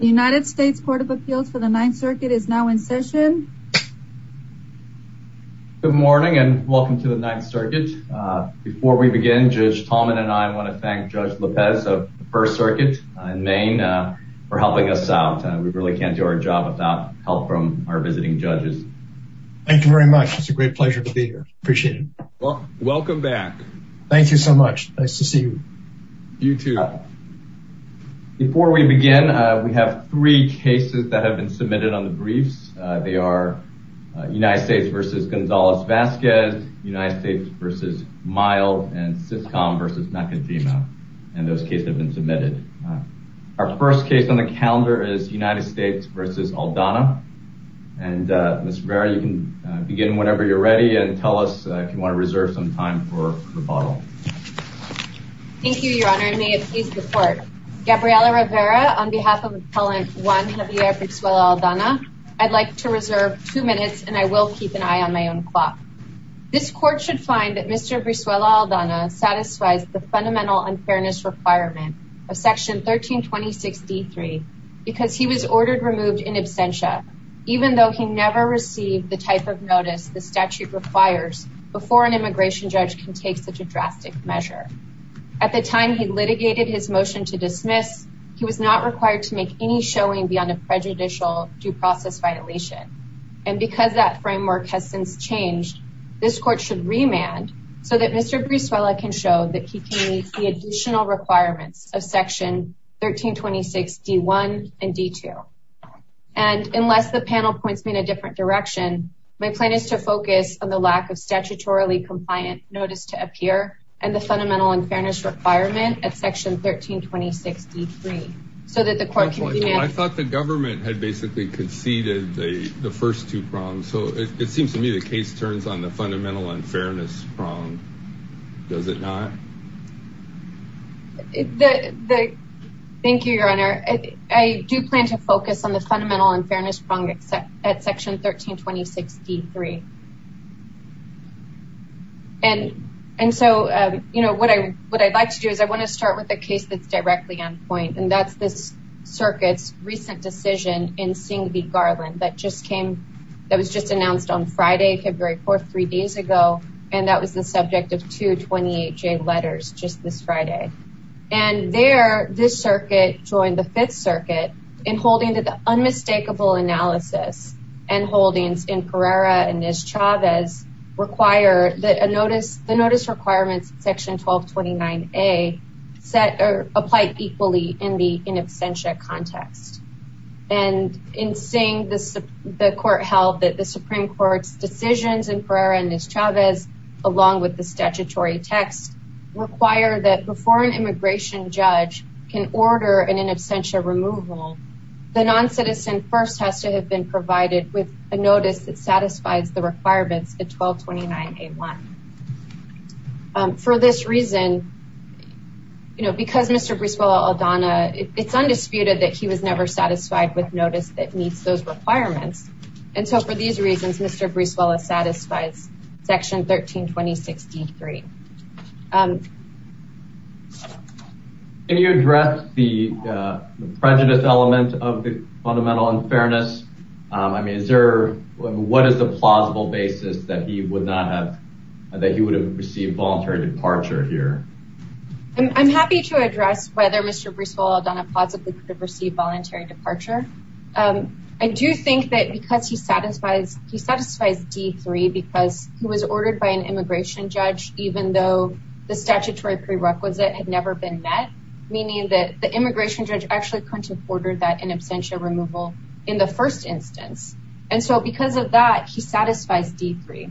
United States Court of Appeals for the Ninth Circuit is now in session. Good morning and welcome to the Ninth Circuit. Before we begin, Judge Tallman and I want to thank Judge Lopez of the First Circuit in Maine for helping us out. We really can't do our job without help from our visiting judges. Thank you very much. It's a great pleasure to be here. Appreciate it. Welcome back. Thank you so much. Nice to see you. You too. Before we begin, we have three cases that have been submitted on the briefs. They are United States v. Gonzalez Vasquez, United States v. Mild, and Syscom v. Macadema. And those cases have been submitted. Our first case on the calendar is United States v. Aldana. And Ms. Rivera, you can begin whenever you're ready and tell us if you want to reserve some time for rebuttal. Thank you, Your Honor. And may it please the Court. Gabriela Rivera, on behalf of Appellant Juan Javier Brisuela Aldana, I'd like to reserve two minutes and I will keep an eye on my own clock. This Court should find that Mr. Brisuela Aldana satisfies the fundamental unfairness requirement of Section 1326D3 because he was ordered removed in absentia, even though he never received the notice the statute requires before an immigration judge can take such a drastic measure. At the time he litigated his motion to dismiss, he was not required to make any showing beyond a prejudicial due process violation. And because that framework has since changed, this Court should remand so that Mr. Brisuela can show that he can meet the additional requirements of Section 1326D1 and D2. And unless the panel points me in a different direction, my plan is to focus on the lack of statutorily compliant notice to appear and the fundamental unfairness requirement at Section 1326D3 so that the Court can remand. I thought the government had basically conceded the first two prongs, so it seems to me the case turns on the fundamental unfairness prong. Does it not? Thank you, Your Honor. I do plan to focus on the fundamental unfairness prong at Section 1326D3. And so, you know, what I'd like to do is I want to start with a case that's directly on point, and that's this circuit's recent decision in Singh v. Garland that was just announced on Friday, February 4th, three days ago, and that was the subject of two 28-J letters just this Friday. And there, this circuit joined the Fifth Circuit in holding that the unmistakable analysis and holdings in Pereira and Ms. Chavez require that the notice requirements in Section 1229A apply equally in the in absentia context. And in Singh, the Court held that the Supreme Court's decisions in Pereira and Ms. Chavez, along with the statutory text, require that before an immigration judge can order an in absentia removal, the non-citizen first has to have been provided with a notice that satisfies the requirements in 1229A1. For this reason, you know, because Mr. Briswell Aldana, it's undisputed that he was never satisfied with notice that meets those requirements. And so, for these reasons, Mr. Briswell Aldana satisfies Section 1326D3. Can you address the prejudice element of the fundamental unfairness? I mean, is there, what is the plausible basis that he would not have, that he would have received voluntary departure here? I'm happy to address whether Mr. Briswell Aldana possibly could have received voluntary departure. I do think that because he satisfies D3, because he was ordered by an immigration judge, even though the statutory prerequisite had never been met, meaning that the immigration judge actually couldn't have ordered that in absentia removal in the first instance. And so, because of that, he satisfies D3.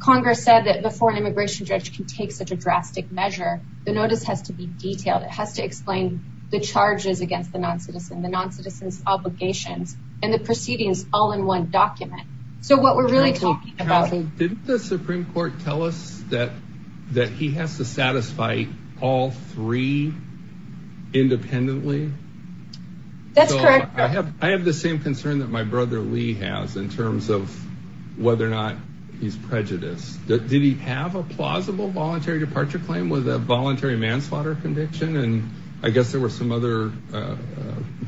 Congress said that before an immigration judge can take such a drastic measure, the notice has to be detailed. It has to explain the charges against the non-citizen, the non-citizen's obligations, and the proceedings all in one document. So, what we're really talking about... Didn't the Supreme Court tell us that that he has to satisfy all three independently? That's correct. I have the same concern that my brother Lee has, in terms of whether or not he's prejudiced. Did he have a plausible voluntary departure claim with a voluntary manslaughter conviction? And I guess there were some other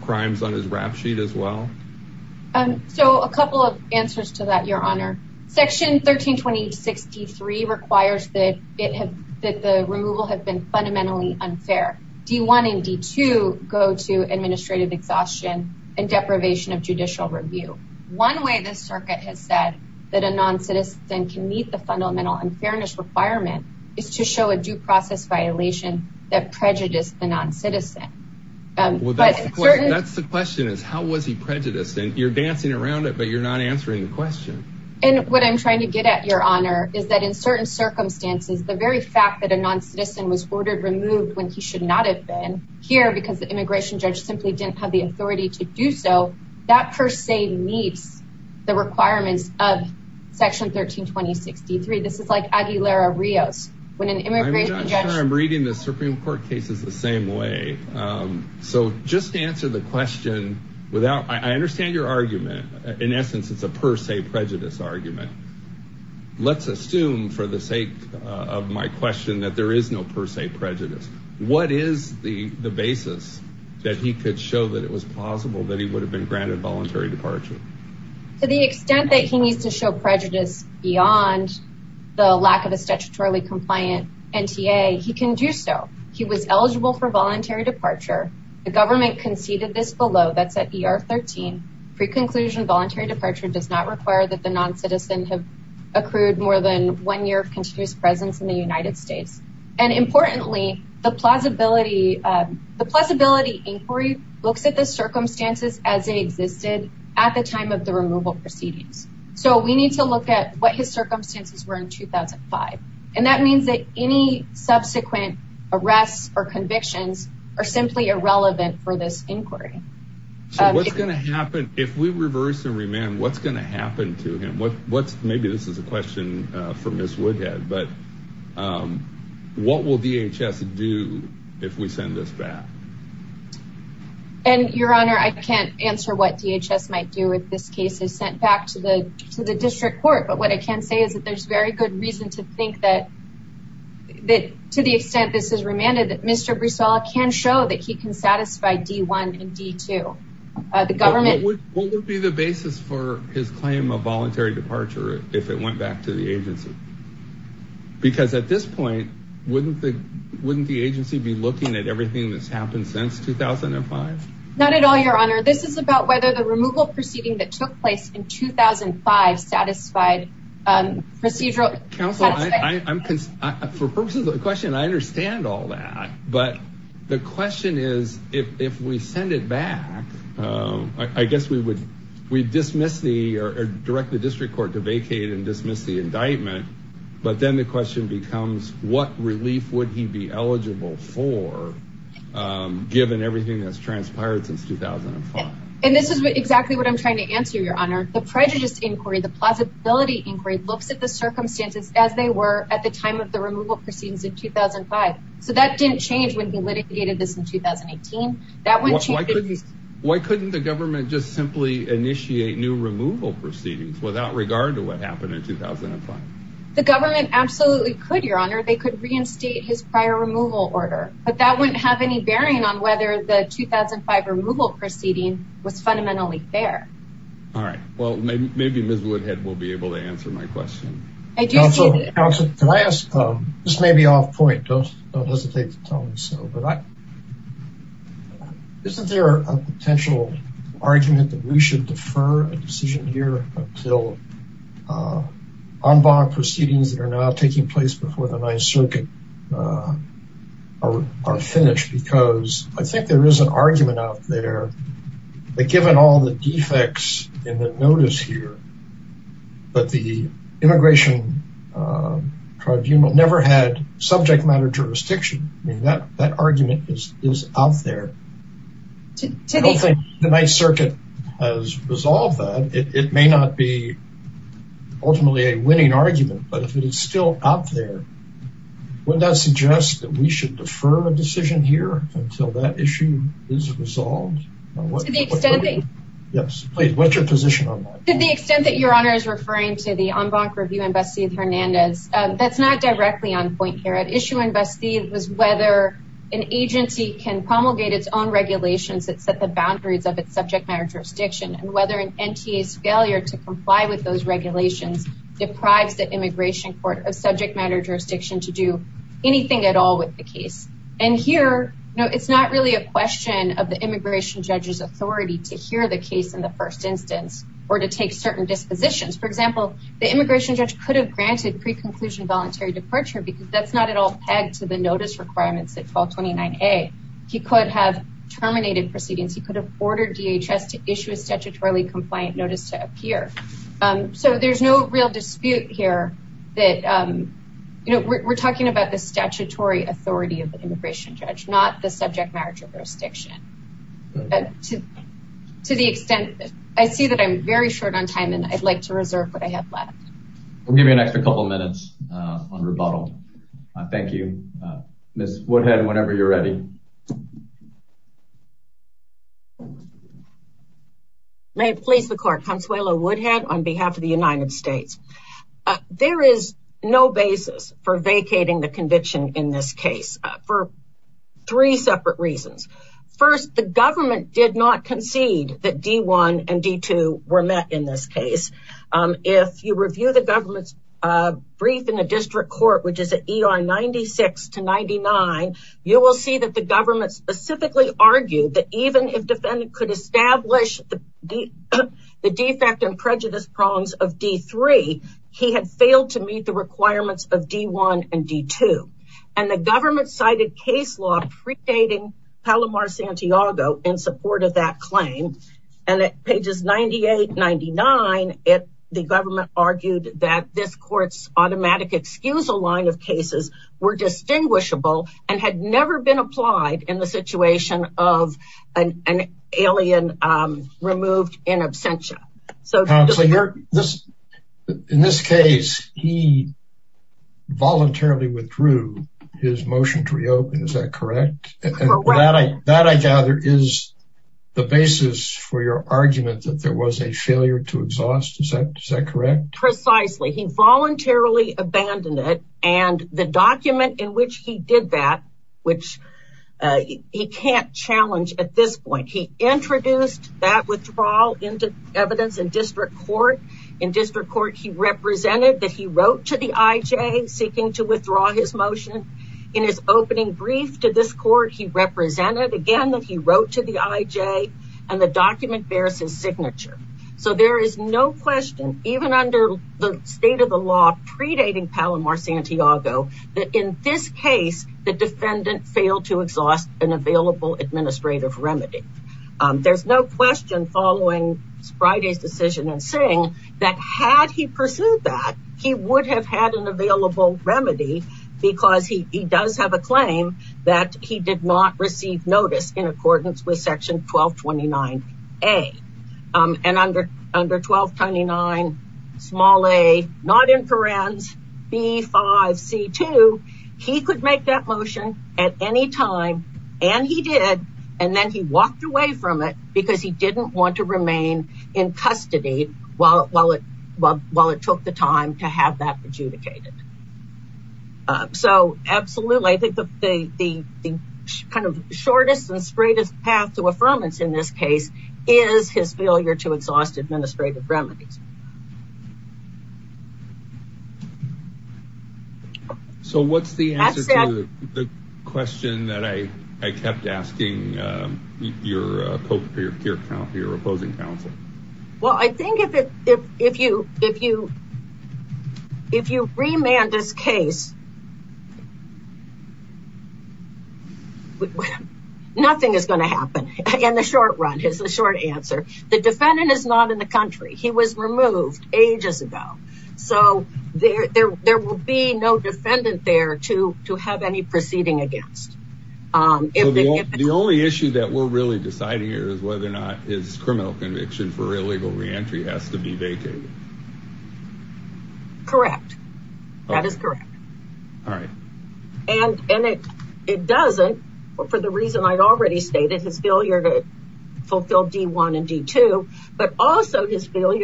crimes on his rap sheet as well. So, a couple of answers to that, Your Honor. Section 1326 D3 requires that the removal have been fundamentally unfair. D1 and D2 go to administrative exhaustion and deprivation of judicial review. One way this circuit has said that a non-citizen can meet the fundamental unfairness requirement is to show a due process violation that prejudiced the non-citizen. That's the question is, how was he prejudiced? And you're dancing around it, but you're not answering the question. And what I'm trying to get at, Your Honor, is that in certain circumstances, the very fact that a non-citizen was ordered removed when he should not have been here because the immigration judge simply didn't have the authority to do so, that per se meets the requirements of Section 1326 D3. This is like Aguilera-Rios. I'm not sure I'm reading the Supreme Court cases the same way. So, just answer the question. I understand your argument. In essence, it's a per se prejudice argument. Let's assume, for the sake of my question, that there is no per se prejudice. What is the basis that he could show that it was plausible that he would have been granted voluntary departure? To the extent that he needs to show prejudice beyond the lack of a statutorily compliant NTA, he can do so. He was eligible for voluntary departure. The government conceded this below. That's at ER 13. Pre-conclusion voluntary departure does not require that the non-citizen have accrued more than one year of continuous presence in the United States. And importantly, the plausibility inquiry looks at the circumstances as they existed at the time of the removal proceedings. So, we need to look at what his circumstances were in 2005. And that means that any subsequent arrests or convictions are simply irrelevant for this inquiry. So, what's going to happen if we reverse and remand? What's going to happen to him? Maybe this is a question for Ms. Woodhead, but what will DHS do if we send this back? And your honor, I can't answer what DHS might do if this case is sent back to the district court. But what I can say is that there's very good reason to think that to the extent this is remanded, that Mr. Bristol can show that he can satisfy D1 and D2. What would be the basis for his claim of voluntary departure if it went back to the agency? Because at this point, wouldn't the agency be looking at everything that's happened since 2005? Not at all, your honor. This is about whether the removal proceeding that took place in 2005 satisfied procedural... Counsel, for purposes of the question, I understand all that. But the question is, if we send it back, I guess we would dismiss the or direct the district court to vacate and dismiss the indictment. But then the question becomes, what relief would he be eligible for given everything that's transpired since 2005? And this is exactly what I'm trying to answer, your honor. The prejudice inquiry, the plausibility inquiry looks at the circumstances as they were at the time of the removal proceedings in 2005. So that didn't change when he litigated this in 2018. Why couldn't the government just simply initiate new removal proceedings without regard to what happened in 2005? The government absolutely could, your honor. They could reinstate his prior removal order. But that wouldn't have any bearing on whether the 2005 removal proceeding was fundamentally fair. All right. Well, maybe Ms. Woodhead will be able to answer my question. Counsel, can I ask, this may be off point, don't hesitate to tell me so, but isn't there a potential argument that we should defer a decision here until en banc proceedings that are now taking place before the Ninth Circuit are finished? Because I think there is an argument out there that given all the defects in the notice here, that the immigration tribunal never had the opportunity to do that. I don't think the Ninth Circuit has resolved that. It may not be ultimately a winning argument, but if it is still out there, wouldn't that suggest that we should defer a decision here until that issue is resolved? Yes, please, what's your position on that? To the extent that your honor is referring to the en banc review and Bastide-Hernandez, that's not directly on point here. At issue in Bastide was whether an agency can promulgate its own regulations that set the boundaries of its subject matter jurisdiction and whether an NTA's failure to comply with those regulations deprives the immigration court of subject matter jurisdiction to do anything at all with the case. And here, it's not really a question of the immigration judge's authority to hear the case in the first instance or to take certain dispositions. For example, the immigration judge could have granted pre-conclusion voluntary departure because that's not at all pegged to the notice requirements at 1229A. He could have terminated proceedings. He could have ordered DHS to issue a statutorily compliant notice to appear. So there's no real dispute here that, you know, we're talking about the statutory authority of the immigration judge, not the subject matter jurisdiction. To the extent that I see that I'm very short on time and I'd like to reserve what I have left. We'll give you an extra couple of minutes on rebuttal. Thank you. Ms. Woodhead, whenever you're ready. May it please the court. Consuelo Woodhead on behalf of the United States. There is no basis for vacating the conviction in this case for three separate reasons. First, the government did not concede that D-1 and D-2 were met in this case. If you review the District Court, which is at ER 96 to 99, you will see that the government specifically argued that even if defendant could establish the defect and prejudice prongs of D-3, he had failed to meet the requirements of D-1 and D-2. And the government cited case law predating Palomar-Santiago in support of that claim. And at pages 98, 99, the government argued that this court's automatic excusal line of cases were distinguishable and had never been applied in the situation of an alien removed in absentia. Counselor, in this case, he voluntarily withdrew his motion to reopen. Is that correct? Correct. That I gather is the basis for your argument that there was a failure to exhaust. Is that correct? Precisely. He voluntarily abandoned it. And the document in which he did that, which he can't challenge at this point, he introduced that withdrawal into evidence in District Court. In District Court, he represented that he wrote to the IJ seeking to withdraw his motion. In his opening brief to this court, he represented again that he wrote to the IJ and the document bears his signature. So there is no question, even under the state of the law predating Palomar-Santiago, that in this case, the defendant failed to exhaust an available administrative remedy. There's no question following Friday's decision and saying that had he pursued that, he would have had an available remedy because he does have a claim that he did not receive notice in accordance with Section 1229A. And under 1229a, not in parens, B5C2, he could make that motion at any time. And he did. And then he walked away from it because he didn't want to remain in custody while it took the time to have that adjudicated. So absolutely, I think the kind of shortest and straightest path to affirmance in this case is his failure to exhaust administrative remedies. So what's the answer to the question that I kept asking your opposing counsel? Well, I think if you remand this case, nothing is going to happen in the short run is the short answer. The defendant is not in the country. He was removed ages ago. So there will be no defendant there to have any proceeding against. The only issue that we're really deciding here is whether or not his criminal conviction for illegal reentry has to be vacated. Correct. That is correct. All right. And it doesn't for the failure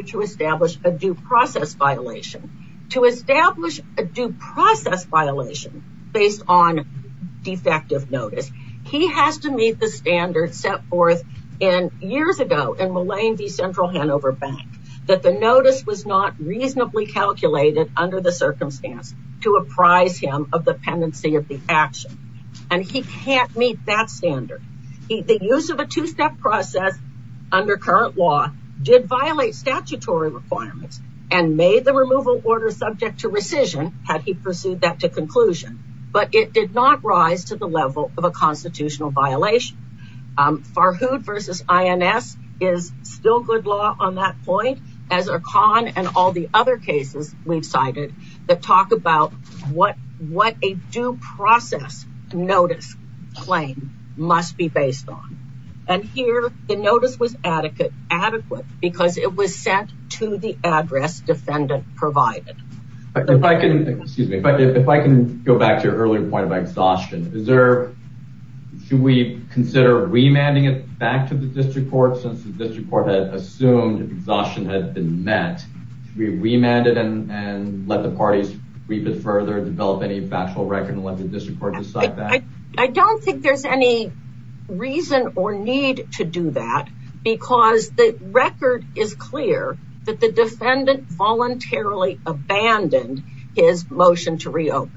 to establish a due process violation. To establish a due process violation based on defective notice, he has to meet the standard set forth in years ago in Millane v. Central Hanover Bank that the notice was not reasonably calculated under the circumstance to apprise him of the pendency of the action. And he can't meet that standard. The use of a two-step process under current law did violate statutory requirements and made the removal order subject to rescission had he pursued that to conclusion. But it did not rise to the level of a constitutional violation. Farhood v. INS is still good law on that point as are Kahn and all the other cases we've cited that talk about what a due process notice claim must be based on. And here the notice was adequate because it was set to the address defendant provided. If I can go back to your earlier point about exhaustion. Should we consider remanding it back to the district court since the district court had assumed exhaustion had been met? Should we remand it and let the parties read it further, develop any factual record and let the reason or need to do that because the record is clear that the defendant voluntarily abandoned his motion to reopen.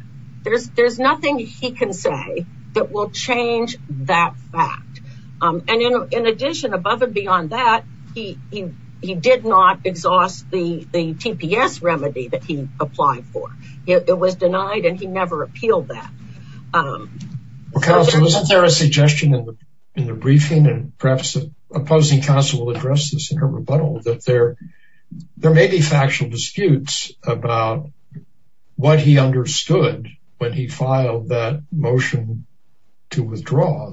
There's nothing he can say that will change that fact. And in addition, above and beyond that, he did not exhaust the TPS remedy that he applied for. It was in the briefing and perhaps the opposing counsel will address this in a rebuttal that there may be factual disputes about what he understood when he filed that motion to withdraw.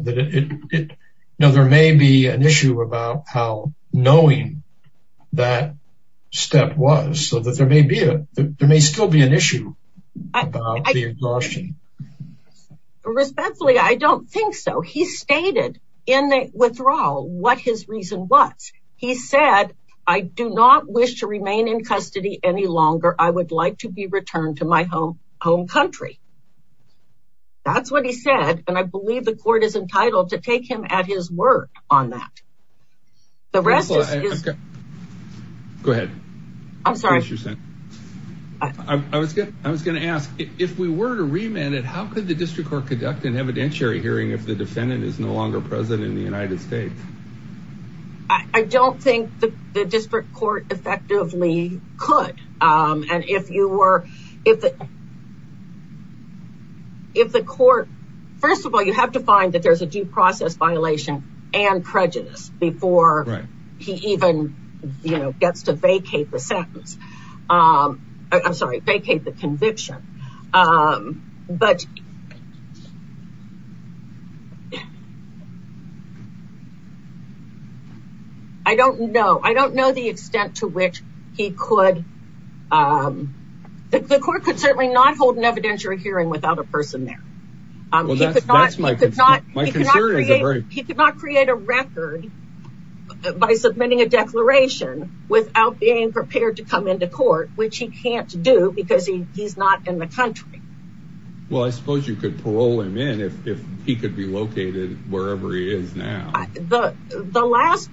Now there may be an issue about how knowing that step was so that there may still be an issue about the exhaustion. Respectfully, I don't think so. He stated in the withdrawal what his reason was. He said, I do not wish to remain in custody any longer. I would like to be returned to my home home country. That's what he said. And I believe the court is entitled to take him at his word on that. Go ahead. I'm sorry. I was going to ask if we were to remand it, how could the district court conduct an evidentiary hearing if the defendant is no longer president in the United States? I don't think the district court effectively could. If the court, first of all, you have to find that there's a due process violation and prejudice before he even gets to vacate the sentence. I'm sorry, vacate the conviction. But I don't know. I don't know the extent to which he could. The court could certainly not hold an evidentiary hearing without a person there. He could not create a record by submitting a declaration without being prepared to come into court, which he can't do because he's not in the country. Well, I suppose you could parole him in if he could be located wherever he is now. The last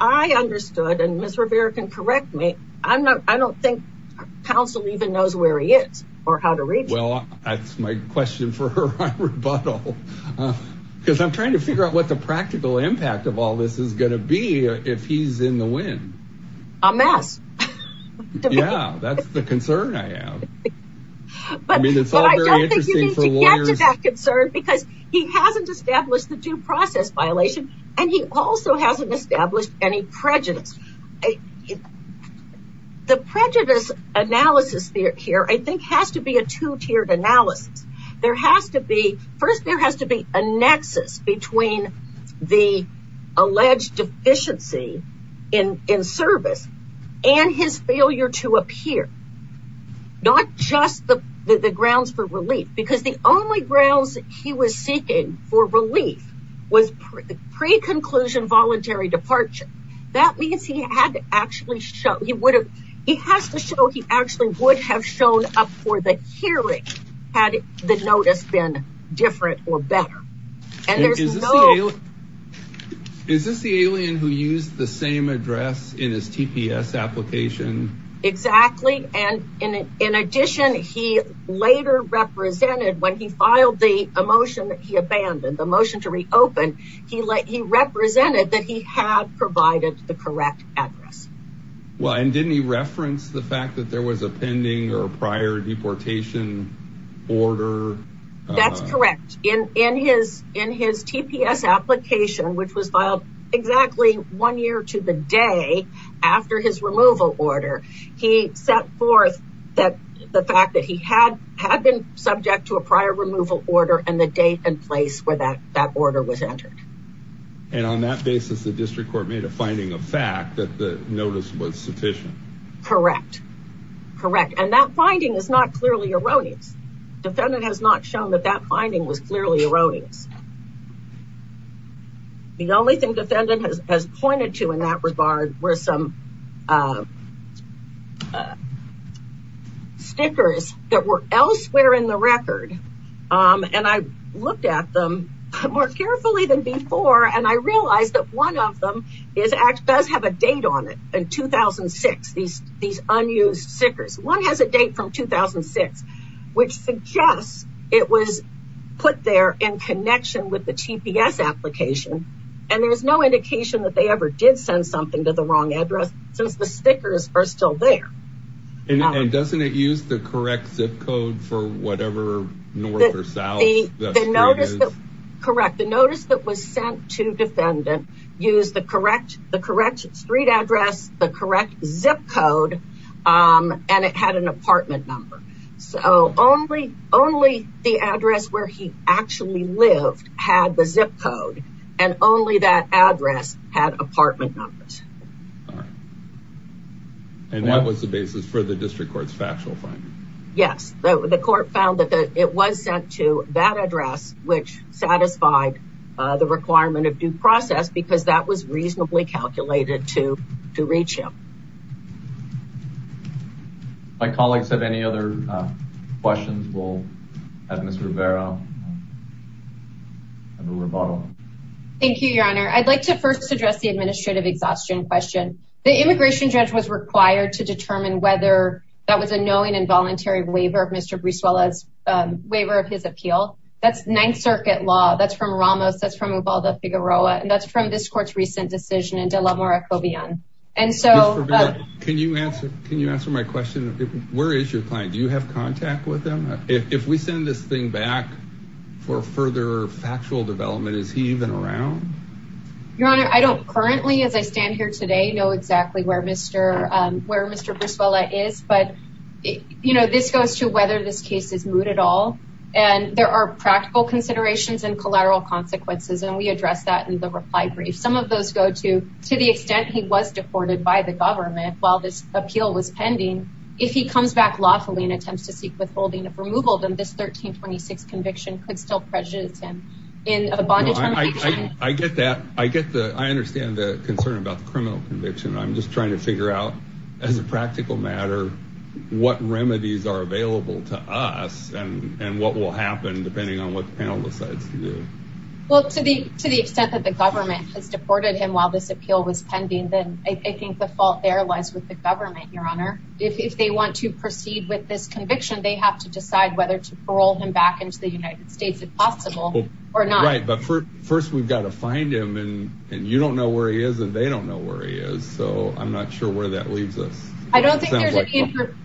I understood, and Mr. Rivera can correct me. I don't think counsel even knows where he is or how to reach. Well, that's my question for her rebuttal, because I'm trying to figure out what the practical impact of all this is going to be if he's in the wind. A mess. Yeah, that's the concern I have. But I mean, it's all very interesting for lawyers. That concern because he hasn't established the due process violation and he also hasn't established any prejudice. The prejudice analysis here, I think, has to be a two-tiered analysis. There has to be, first, there has to be a nexus between the alleged deficiency in service and his failure to appear. Not just the grounds for relief, because the only grounds he was seeking for relief was pre-conclusion voluntary departure. That means he had to actually show, he would have, he has to show he actually would have shown up for the hearing had the notice been different or better. And there's no... Is this the alien who used the same address in his TPS application? Exactly. And in addition, he later represented when he filed the motion that he abandoned, the motion to reopen, he represented that he had provided the correct address. Well, and didn't he reference the fact that there was a pending or prior deportation order? That's correct. In his TPS application, which was filed exactly one year to the day after his removal order, he set forth that the fact that he had been subject to a prior removal order and the place where that order was entered. And on that basis, the district court made a finding of fact that the notice was sufficient. Correct. Correct. And that finding is not clearly erroneous. Defendant has not shown that that finding was clearly erroneous. The only thing defendant has pointed to in that regard were some of the stickers that were elsewhere in the record. And I looked at them more carefully than before. And I realized that one of them does have a date on it in 2006, these unused stickers. One has a date from 2006, which suggests it was put there in connection with the TPS application. And there's no indication that they ever did send something to the wrong address since the stickers are still there. And doesn't it use the correct zip code for whatever north or south? Correct. The notice that was sent to defendant used the correct street address, the correct zip code, and it had an apartment number. So only the address where he actually lived had the zip code and only that address had apartment numbers. And that was the basis for the district court's factual finding. Yes, the court found that it was sent to that address, which satisfied the requirement of due process because that was reasonably calculated to reach him. My colleagues have any other questions? We'll have Ms. Rivera. Have a rebuttal. Thank you, Your Honor. I'd like to first address the administrative exhaustion question. The immigration judge was required to determine whether that was a knowing involuntary waiver of Mr. Brizuela's waiver of his appeal. That's Ninth Circuit law. That's from Ramos. That's from Ubaldo Figueroa. And that's from this court's recent decision in De La Mora Cobian. Can you answer my question? Where is your client? Do further factual development? Is he even around? Your Honor, I don't currently, as I stand here today, know exactly where Mr. Brizuela is. But, you know, this goes to whether this case is moot at all. And there are practical considerations and collateral consequences. And we address that in the reply brief. Some of those go to the extent he was deported by the government while this appeal was pending. If he comes back lawfully and attempts to seek withholding of removal, then this 1326 conviction could still prejudice him in a bondage conviction. I get that. I get that. I understand the concern about the criminal conviction. I'm just trying to figure out, as a practical matter, what remedies are available to us and what will happen depending on what the panel decides to do. Well, to the extent that the government has deported him while this appeal was pending, then I think the fault there lies with the government, Your Honor. If they want to proceed with this conviction, they have to decide whether to parole him back into the United States, if possible, or not. Right. But first, we've got to find him. And you don't know where he is, and they don't know where he is. So I'm not sure where that leaves us. I don't think there's any information.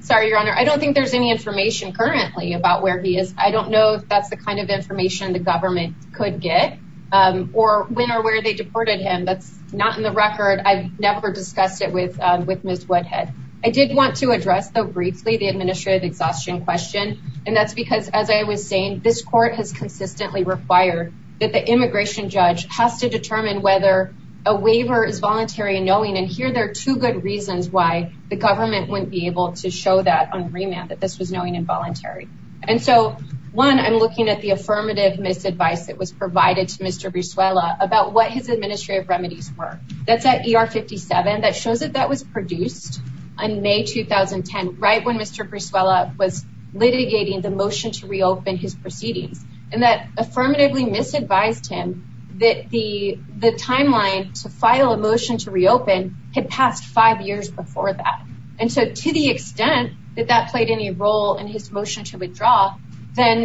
Sorry, Your Honor. I don't think there's any information currently about where he is. I don't know if that's the kind of information the government could get or when or where they deported him. That's not in the record. I've never discussed it with Ms. Woodhead. I did want to address, though, briefly the administrative exhaustion question. And that's because, as I was saying, this court has consistently required that the immigration judge has to determine whether a waiver is voluntary in knowing. And here there are two good reasons why the government wouldn't be able to show that on remand, that this was knowing involuntary. And so, one, I'm looking at the affirmative misadvice that was provided to Mr. That's at ER 57. That shows that that was produced in May 2010, right when Mr. Brizuela was litigating the motion to reopen his proceedings. And that affirmatively misadvised him that the timeline to file a motion to reopen had passed five years before that. And so, to the extent that that played any role in his motion to withdraw, then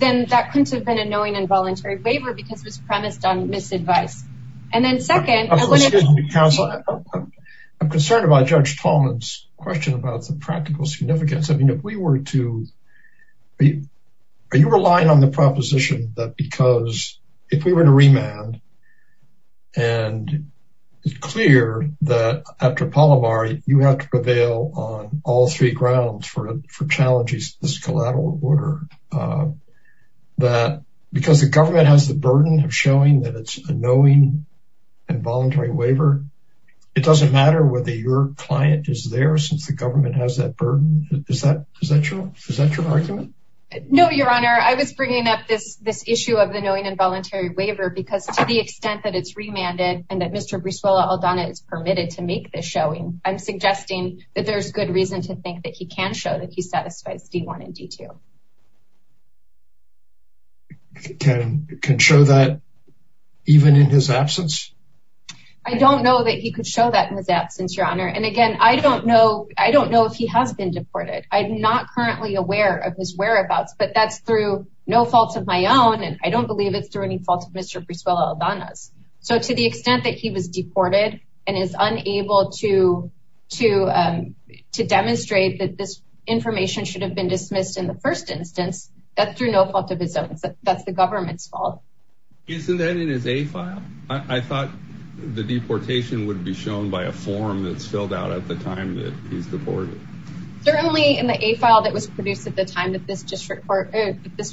that couldn't have been a knowing involuntary waiver because it was premised on misadvice. And then second... Excuse me, counsel. I'm concerned about Judge Tallman's question about the practical significance. I mean, if we were to... Are you relying on the proposition that because if we were to remand, and it's clear that after Palomar, you have to prevail on all three grounds for challenging this collateral order, that because the government has the burden of showing that it's a knowing involuntary waiver, it doesn't matter whether your client is there since the government has that burden. Is that your argument? No, Your Honor. I was bringing up this issue of the knowing involuntary waiver because to the extent that it's remanded and that Mr. Brizuela-Aldana is permitted to make this I'm suggesting that there's good reason to think that he can show that he satisfies D-1 and D-2. Can show that even in his absence? I don't know that he could show that in his absence, Your Honor. And again, I don't know if he has been deported. I'm not currently aware of his whereabouts, but that's through no fault of my own. And I don't believe it's through any fault of Mr. Brizuela-Aldana's. So to the extent that he was deported and is unable to demonstrate that this information should have been dismissed in the first instance, that's through no fault of his own. That's the government's fault. Isn't that in his A-file? I thought the deportation would be shown by a form that's filled out at the time that he's deported. Certainly in the A-file that was produced at the time that this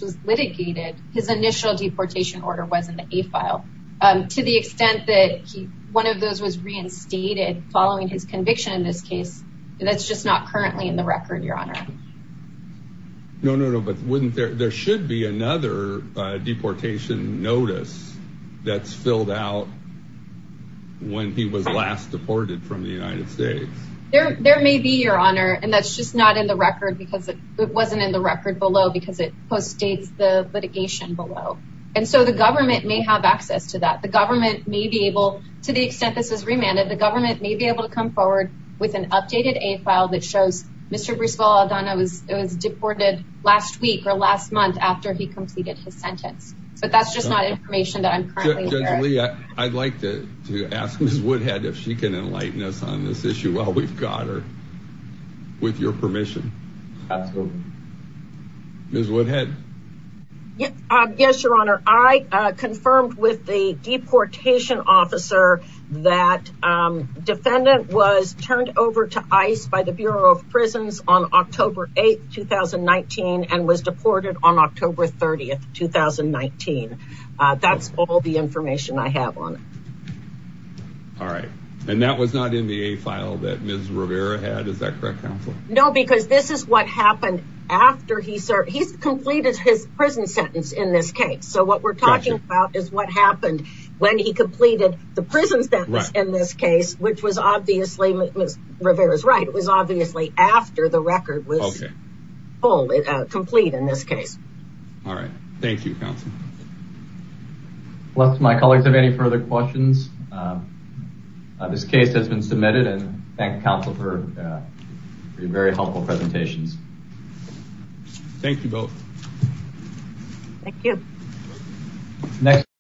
was litigated, his initial deportation order was in the A-file. To the extent that one of those was reinstated following his conviction in this case, that's just not currently in the record, Your Honor. No, no, no. But there should be another deportation notice that's filled out when he was last deported from the United States. There may be, Your Honor, and that's just not in the record because it wasn't in the record and so the government may have access to that. The government may be able, to the extent this is remanded, the government may be able to come forward with an updated A-file that shows Mr. Brizuela-Aldana was deported last week or last month after he completed his sentence. But that's just not information that I'm currently aware of. I'd like to ask Ms. Woodhead if she can enlighten us on this issue while we've got her, with your permission. Absolutely. Ms. Woodhead? Yes, Your Honor. I confirmed with the deportation officer that defendant was turned over to ICE by the Bureau of Prisons on October 8, 2019 and was deported on October 30, 2019. That's all the information I have on it. All right. And that was not in the A-file that Ms. Rivera had, is that correct, Counselor? No, because this is what happened after he served, he's completed his prison sentence in this case. So what we're talking about is what happened when he completed the prison sentence in this case, which was obviously, Ms. Rivera's right, it was obviously after the record was complete in this case. All right. Thank you, Counselor. Unless my colleagues have any further questions, this case has been submitted and thank you, Counselor, for your very helpful presentations. Thank you both. Thank you.